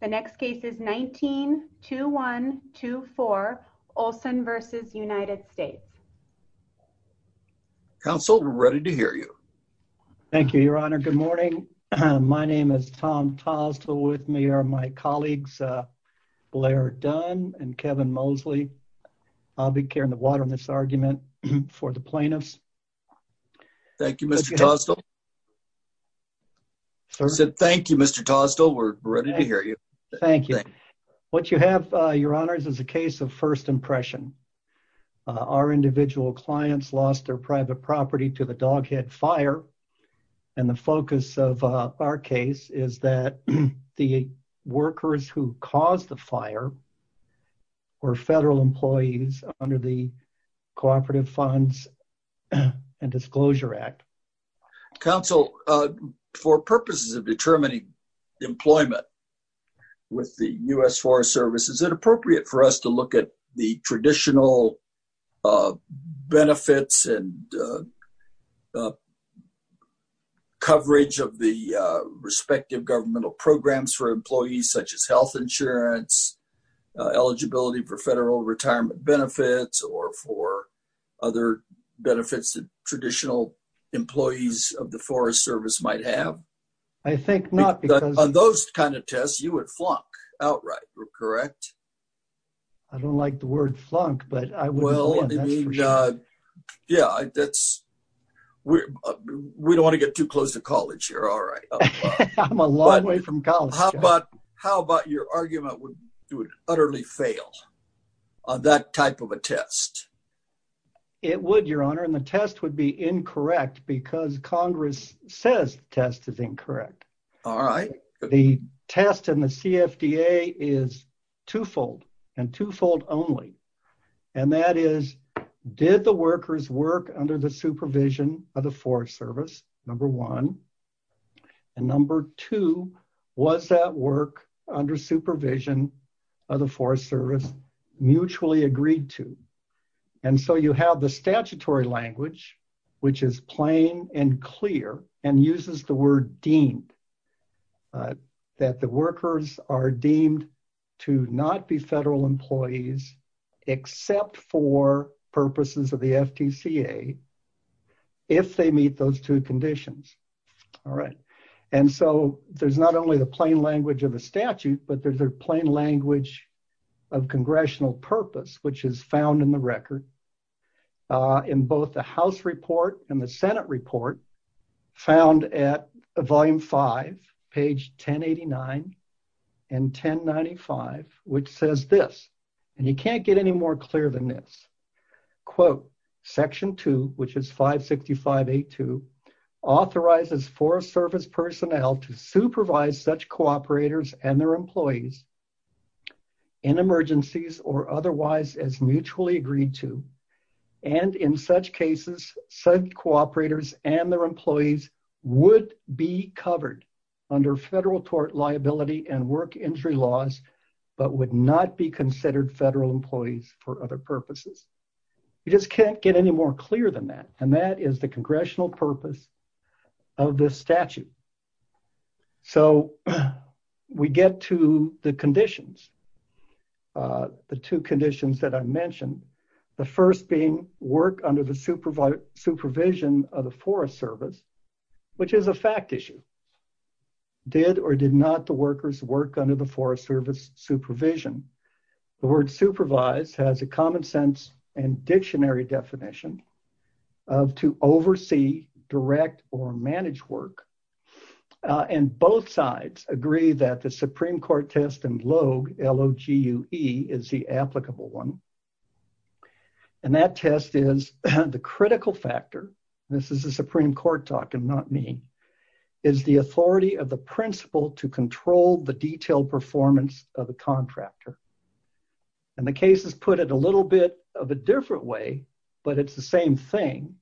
The next case is 19-21-24, Olsen v. United States. Counsel, we're ready to hear you. Thank you, Your Honor. Good morning. My name is Tom Tosdell. With me are my colleagues Blair Dunn and Kevin Mosley. I'll be carrying the water on this argument for the plaintiffs. Thank you, Mr. Tosdell. I said thank you, Mr. Tosdell. We're ready to hear you. Thank you. What you have, Your Honors, is a case of first impression. Our individual clients lost their private property to the Dog Head Fire, and the focus of our case is that the workers who caused the fire were federal employees under the Cooperative Funds and Disclosure Act. Counsel, for purposes of determining employment with the U.S. Forest Service, is it appropriate for us to look at the traditional benefits and coverage of the respective governmental programs for employees, such as health insurance, eligibility for federal retirement benefits, or for other benefits that traditional employees of the Forest Service might have? I think not, because— On those kind of tests, you would flunk outright, correct? I don't like the word flunk, but I would— Well, I mean, yeah, that's—we don't want to get too close to college here, all right. I'm a long way from college. How about your argument would utterly fail on that type of a test? It would, Your Honor, and the test would be incorrect because Congress says the test is incorrect. All right. The test in the CFDA is twofold, and twofold only, and that is, did the workers work under the supervision of the Forest Service? Number one. And number two, was that work under supervision of the Forest Service mutually agreed to? And so you have the statutory language, which is plain and clear, and uses the word deemed, that the workers are deemed to not be federal employees except for purposes of the FTCA, if they meet those two conditions. All right. And so there's not only the plain language of a statute, but there's a plain language of congressional purpose, which is found in the record, in both the House report and the Senate report, found at Volume 5, page 1089 and 1095, which says this, and you can't get any more clear than this, quote, Section 2, which is 565A2, authorizes Forest Service personnel to supervise such cooperators and their employees in emergencies or otherwise as mutually agreed to, and in such cases, said cooperators and their employees would be covered under federal tort liability and work injury laws, but would not be considered federal employees for other purposes. You just can't get any more clear than that. And that is the congressional purpose of this statute. So we get to the conditions, the two conditions that I mentioned, the first being work under the supervision of the Forest Service, which is a fact issue. Did or did not the workers work under the Forest Service supervision? The word supervise has a common sense and dictionary definition of to oversee, direct, or manage work, and both sides agree that the Supreme Court test and LOGE, L-O-G-E is the applicable one, and that test is the critical factor, this is a Supreme Court talk and not me, is the authority of the principal to control the detailed performance of the contractor. And the cases put it a little bit of a different way, but it's the same thing,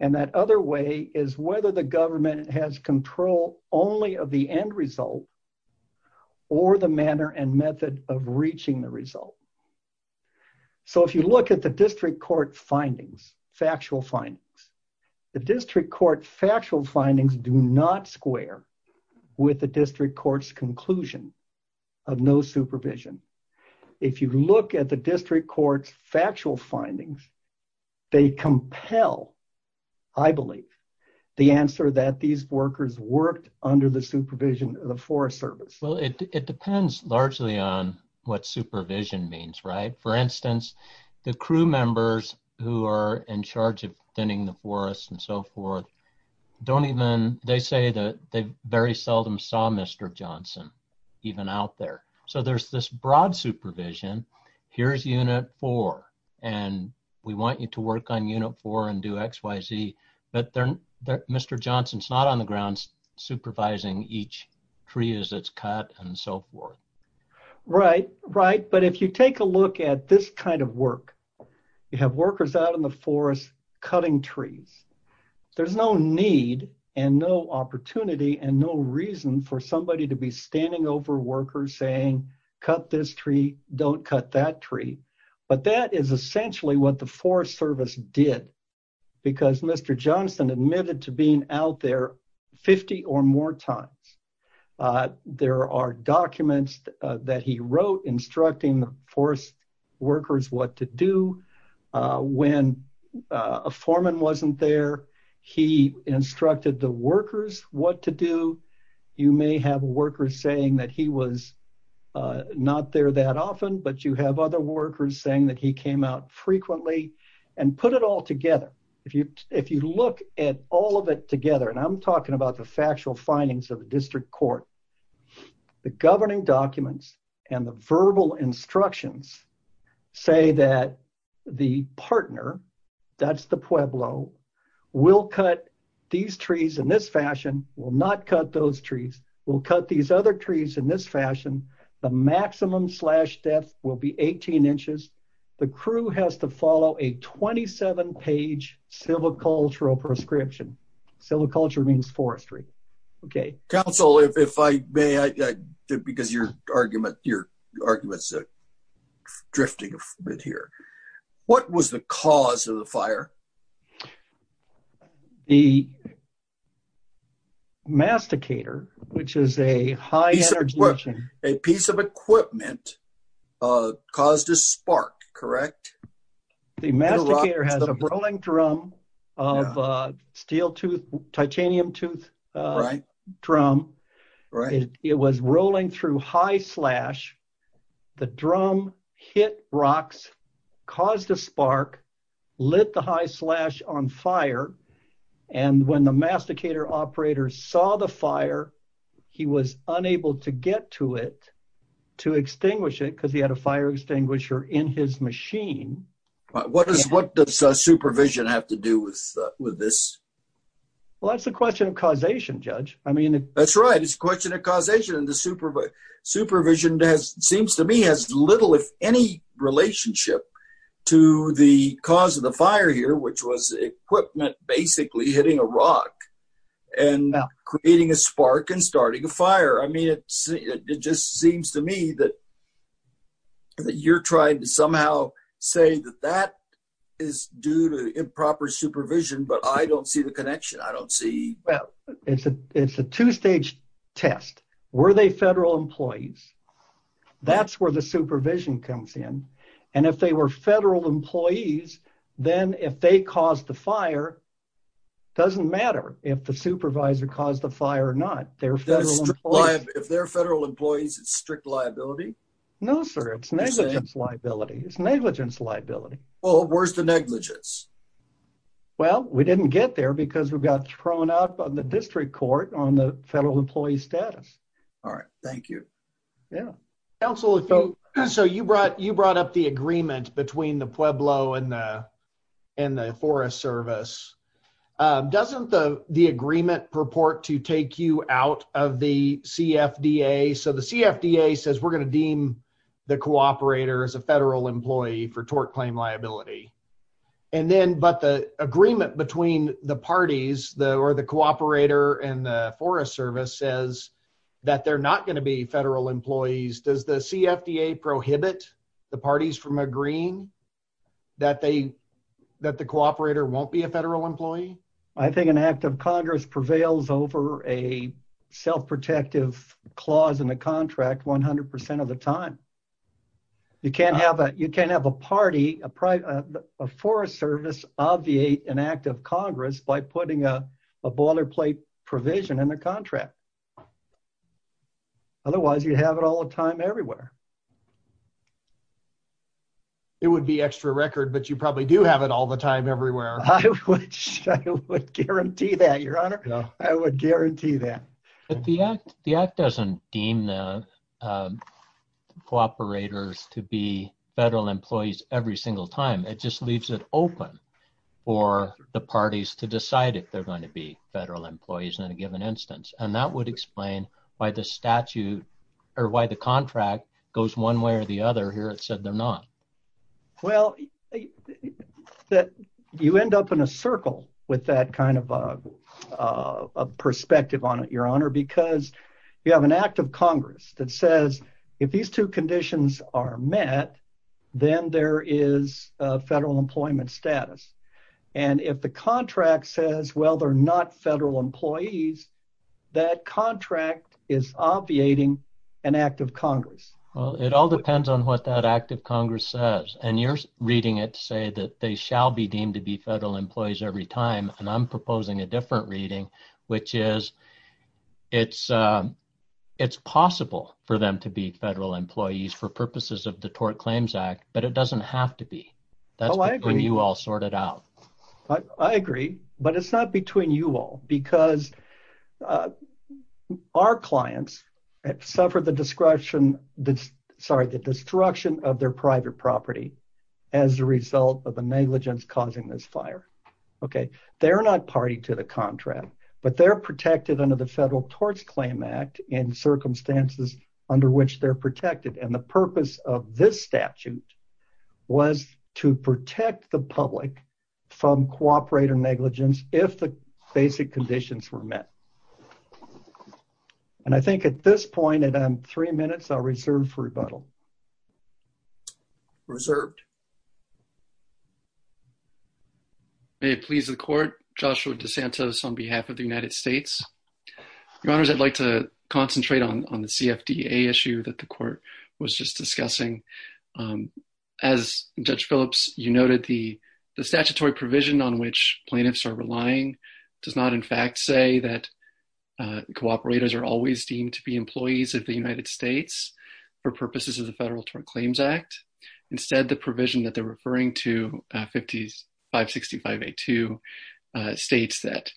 and that other way is whether the government has control only of the end result or the manner and method of reaching the result. So if you look at the district court findings, factual findings, the district court factual findings do not square with the district court's conclusion of no supervision. If you look at the district court's factual findings, they compel, I believe, the answer that these workers worked under the supervision of the Forest Service. Well, it depends largely on what supervision means, right? For instance, the crew members who are in charge of thinning the forest and so forth don't even, they say that they very seldom saw Mr. Johnson even out there. So there's this broad supervision, here's unit four, and we want you to work on unit four and do X, Y, Z, but Mr. Johnson's not on the ground supervising each tree as it's cut and so forth. Right, right, but if you take a look at this kind of work, you have workers out in the forest cutting trees. There's no need and no opportunity and no reason for somebody to be standing over workers saying, cut this tree, don't cut that tree, but that is essentially what the Forest Service did because Mr. Johnson admitted to being out there 50 or more times. There are documents that he wrote instructing forest workers what to do. When a foreman wasn't there, he instructed the workers what to do. You may have workers saying that he was not there that often, but you have other workers saying that he came out frequently and put it all together. If you look at all of it together, and I'm talking about the factual findings of the district court, the governing documents and the verbal instructions say that the partner, that's the Pueblo, will cut these trees in this fashion, will not cut those trees, will cut these other trees in this fashion, the maximum slash depth will be 18 inches, the crew has to follow a 27-page silvicultural prescription. Silviculture means forestry. Counsel, if I may, because your argument is drifting a bit here, what was the cause of the fire? The masticator, which is a high energy... A piece of equipment caused a spark, correct? The masticator has a rolling drum of steel tooth, titanium tooth drum. It was rolling through high on fire, and when the masticator operator saw the fire, he was unable to get to it to extinguish it because he had a fire extinguisher in his machine. What does supervision have to do with this? Well, that's the question of causation, Judge. I mean... That's right, it's a question of causation, and the supervision seems to me has little, if any, relationship to the cause of the fire here, which was equipment basically hitting a rock and creating a spark and starting a fire. I mean, it just seems to me that you're trying to somehow say that that is due to improper supervision, but I don't see the connection. I don't see... Well, it's a two-stage test. Were they federal employees? That's where supervision comes in, and if they were federal employees, then if they caused the fire, doesn't matter if the supervisor caused the fire or not. If they're federal employees, it's strict liability? No, sir, it's negligence liability. It's negligence liability. Well, where's the negligence? Well, we didn't get there because we got thrown out by the district court on the federal employee status. All right, thank you. Yeah. Counsel, so you brought up the agreement between the Pueblo and the Forest Service. Doesn't the agreement purport to take you out of the CFDA? So the CFDA says we're going to deem the cooperator as a federal employee for Forest Service says that they're not going to be federal employees. Does the CFDA prohibit the parties from agreeing that the cooperator won't be a federal employee? I think an act of Congress prevails over a self-protective clause in the contract 100% of the time. You can't have a party, a Forest Service obviate an act of Congress by putting a water plate provision in the contract. Otherwise, you have it all the time everywhere. It would be extra record, but you probably do have it all the time everywhere. I would guarantee that, your honor. I would guarantee that. But the act doesn't deem the cooperators to be federal employees every single time. It just leaves it open for the parties to in a given instance. That would explain why the statute or why the contract goes one way or the other here. It said they're not. Well, you end up in a circle with that kind of perspective on it, your honor, because you have an act of Congress that says, if these two conditions are met, then there is a federal employment status. If the contract says, well, they're not federal employees, that contract is obviating an act of Congress. It all depends on what that act of Congress says. You're reading it to say that they shall be deemed to be federal employees every time. I'm proposing a different reading, which is it's possible for them to be federal employees for purposes of the Tort Claims Act, but it doesn't have to be. That's when you all sort it out. I agree, but it's not between you all because our clients suffered the destruction of their private property as a result of the negligence causing this fire. They're not party to the contract, but they're protected under the Federal Tort Claims Act in circumstances under which they're protected. The purpose of this statute was to protect the public from cooperator negligence if the basic conditions were met. I think at this point, and I'm three minutes, I'll reserve for rebuttal. Reserved. May it please the court, Joshua DeSantos on behalf of the United States. Your honors, I'd like to concentrate on the CFDA issue that the court was just discussing. As Judge Phillips, you noted the statutory provision on which plaintiffs are relying does not in fact say that cooperators are always deemed to be employees of the United States for purposes of the Federal Tort Claims Act. Instead, the provision that they're referring to 5565A2 states that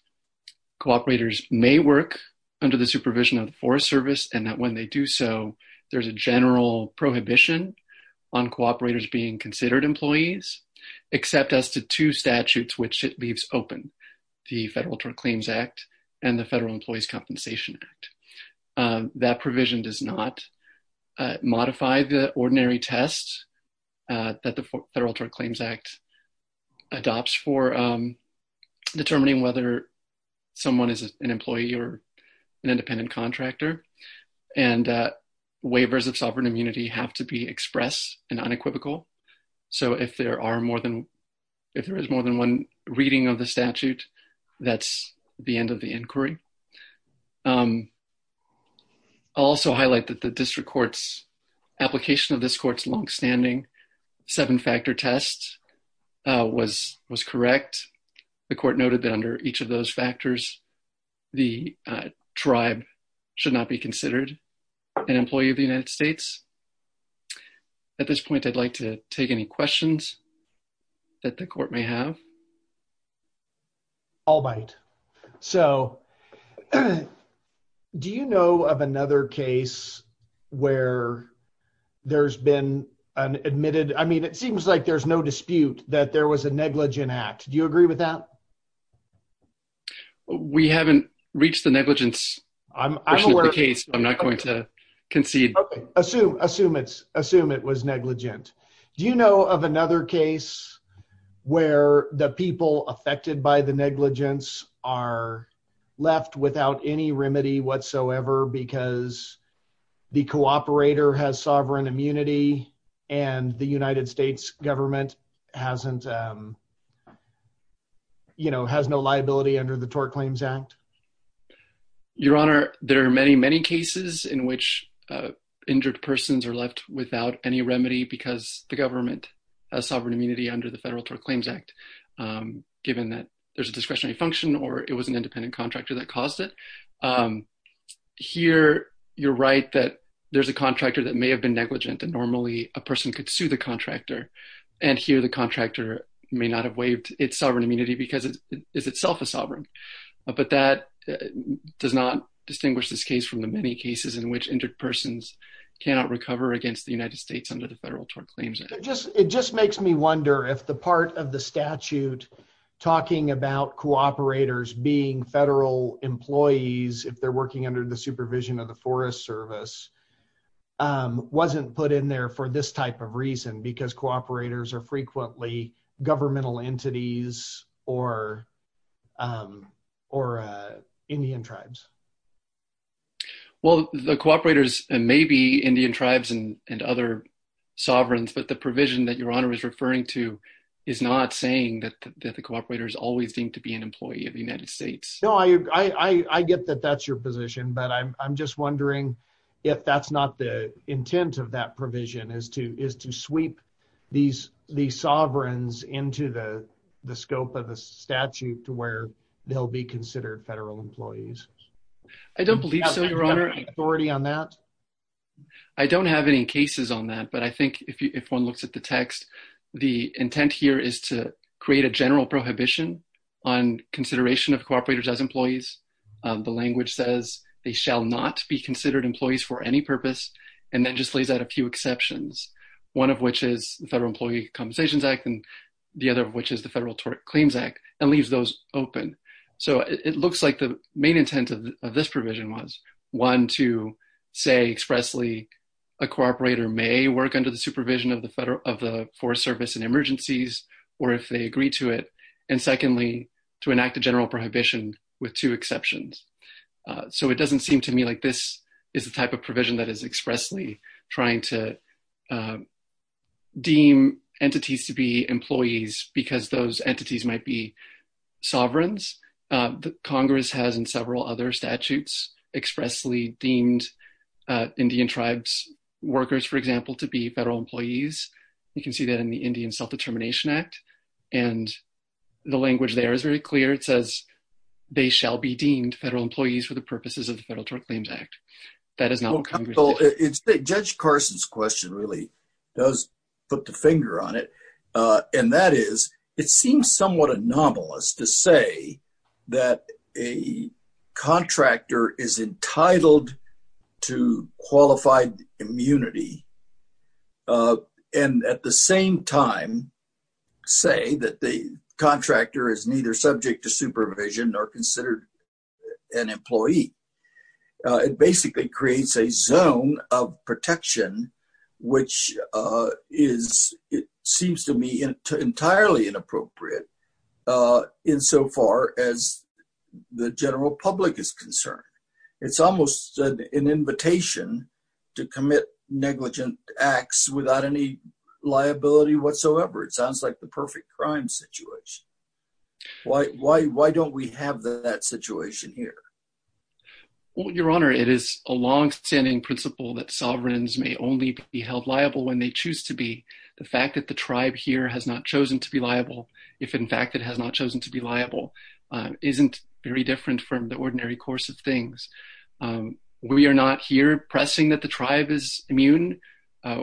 cooperators may work under the supervision of the Forest Service and that when they do so, there's a general prohibition on cooperators being considered employees, except as to two statutes which it leaves open, the Federal Tort Claims Act and the Federal Employees' Compensation Act. That provision does not modify the ordinary test that the Federal Tort Claims Act adopts for determining whether someone is an employee or an independent contractor. And waivers of sovereign immunity have to be expressed and unequivocal. So if there is more than one reading of the statute, that's the end of the inquiry. I'll also highlight that the test was correct. The court noted that under each of those factors, the tribe should not be considered an employee of the United States. At this point, I'd like to take any questions that the court may have. All right. So do you know of another case where there's been an admitted, I mean, it seems like there's no dispute that there was a negligent act. Do you agree with that? We haven't reached the negligence. I'm aware of the case. I'm not going to concede. Assume it was negligent. Do you know of another case where the people have sovereign immunity and the United States government has no liability under the Tort Claims Act? Your Honor, there are many, many cases in which injured persons are left without any remedy because the government has sovereign immunity under the Federal Tort Claims Act, given that there's a discretionary function or it was an independent contractor that caused it. Here, you're right that there's a contractor that may have been negligent, and normally a person could sue the contractor. And here the contractor may not have waived its sovereign immunity because it is itself a sovereign. But that does not distinguish this case from the many cases in which injured persons cannot recover against the United States under the Federal Tort Claims Act. It just makes me wonder if the part of the statute talking about cooperators being federal employees, if they're working under the supervision of the Forest Service, wasn't put in there for this type of reason because cooperators are frequently governmental entities or Indian tribes. Well, the cooperators may be Indian tribes and other sovereigns, but the provision that Your Honor is referring to is not saying that the cooperators always seem to be an employee of the United States. No, I get that that's your position, but I'm just wondering if that's not the intent of that provision, is to sweep these sovereigns into the scope of the statute to where they'll be considered federal employees. I don't believe so, Your Honor. Do you have any authority on that? I don't have any cases on that, but I think if one looks at the text, the intent here is to prohibition on consideration of cooperators as employees. The language says they shall not be considered employees for any purpose, and then just lays out a few exceptions, one of which is the Federal Employee Compensations Act, and the other of which is the Federal Tort Claims Act, and leaves those open. So it looks like the main intent of this provision was, one, to say expressly a cooperator may work under the supervision of the Forest Service in emergencies, or if they agree to it, and secondly, to enact a general prohibition with two exceptions. So it doesn't seem to me like this is the type of provision that is expressly trying to deem entities to be employees because those entities might be sovereigns. Congress has, in several other statutes, expressly deemed Indian tribes' workers, for example, to be employees. And the language there is very clear. It says they shall be deemed federal employees for the purposes of the Federal Tort Claims Act. That is not what Congress did. Well, Judge Carson's question really does put the finger on it, and that is, it seems somewhat anomalous to say that a contractor is entitled to qualified immunity, and at the same time, say that the contractor is neither subject to supervision nor considered an employee. It basically creates a zone of protection which is, it seems to me, entirely inappropriate insofar as the general public is concerned. It's almost an invitation to commit negligent acts without any liability whatsoever. It sounds like the perfect crime situation. Why don't we have that situation here? Your Honor, it is a long-standing principle that sovereigns may only be held liable when they are not. It isn't very different from the ordinary course of things. We are not here pressing that the tribe is immune.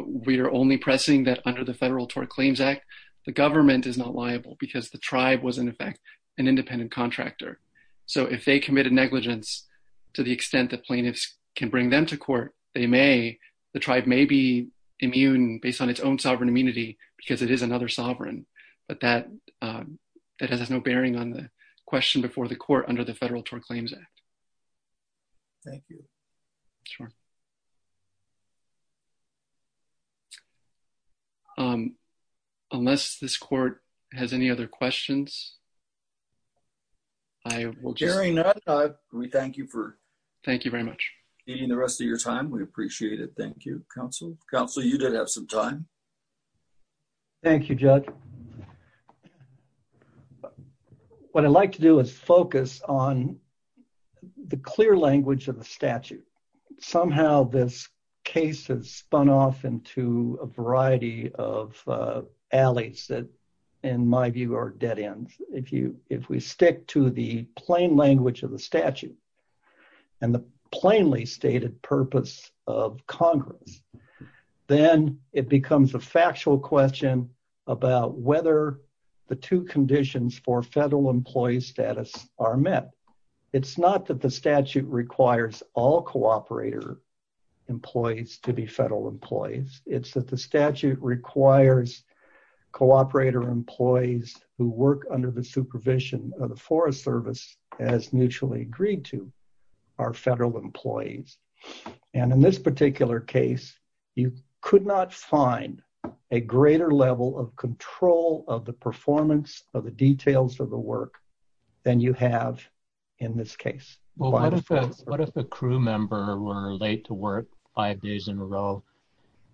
We are only pressing that under the Federal Tort Claims Act, the government is not liable because the tribe was, in effect, an independent contractor. So if they committed negligence to the extent that plaintiffs can bring them to court, they may, the tribe may be immune based on its own sovereign immunity because it is another sovereign. But that has no bearing on the question before the court under the Federal Tort Claims Act. Thank you. Unless this court has any other questions. Well, Jerry Nutt, we thank you for... Thank you very much. ...the rest of your time. We appreciate it. Thank you, counsel. Counsel, you did have some time. Thank you, Judge. What I'd like to do is focus on the clear language of the statute. Somehow this case has spun off into a variety of alleys that, in my view, are dead ends. If we stick to the plain language of statute and the plainly stated purpose of Congress, then it becomes a factual question about whether the two conditions for federal employee status are met. It's not that the statute requires all cooperator employees to be federal employees. It's that the statute requires cooperator employees who work under the supervision of the Forest Service as mutually agreed to are federal employees. In this particular case, you could not find a greater level of control of the performance of the details of the work than you have in this case. What if a crew member were late to work five days in a row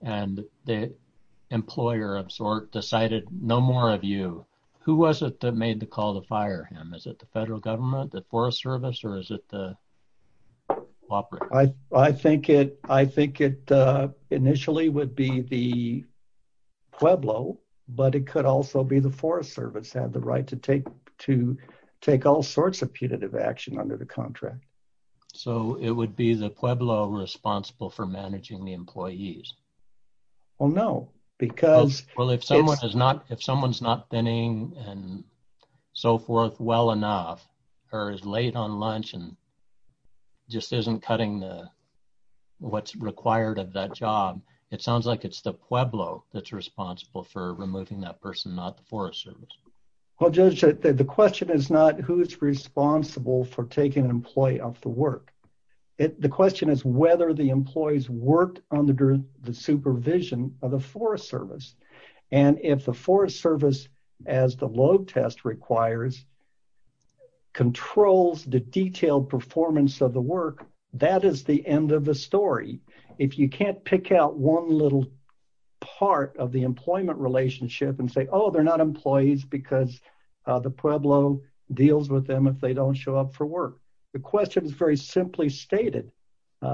and the employer of sort decided no more of you? Who was it that made the call to fire him? Is it the federal government, the Forest Service, or is it the cooperator? I think it initially would be the Pueblo, but it could also be the Forest Service had the right to to take all sorts of punitive action under the contract. So, it would be the Pueblo responsible for managing the employees? Well, no, because... Well, if someone's not thinning and so forth well enough or is late on lunch and just isn't cutting what's required of that job, it sounds like it's the Pueblo that's responsible for removing that person, not the Forest Service. Well, Judge, the question is not who is responsible for taking an employee off the work. The question is whether the employees worked under the supervision of the Forest Service. And if the Forest Service, as the load test requires, controls the detailed performance of the work, that is the end of the story. If you can't pick out one little part of the employment relationship and say, oh, they're not employees because the Pueblo deals with them if they don't show up for work. The question is very simply stated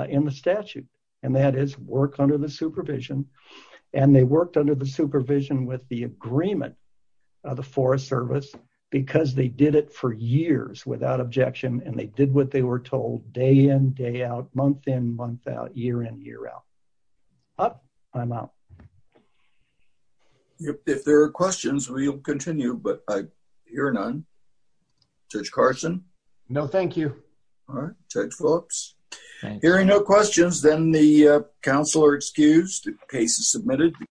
in the statute. And that is work under the supervision. And they worked under the supervision with the agreement of the Forest Service because they did it for years without objection. And they did what they were told day in, day out, month in, month out, year in, year out. Up, I'm out. Thank you. If there are questions, we'll continue. But I hear none. Judge Carson? No, thank you. All right. Judge Phillips? Hearing no questions, then the council are excused. The case is submitted.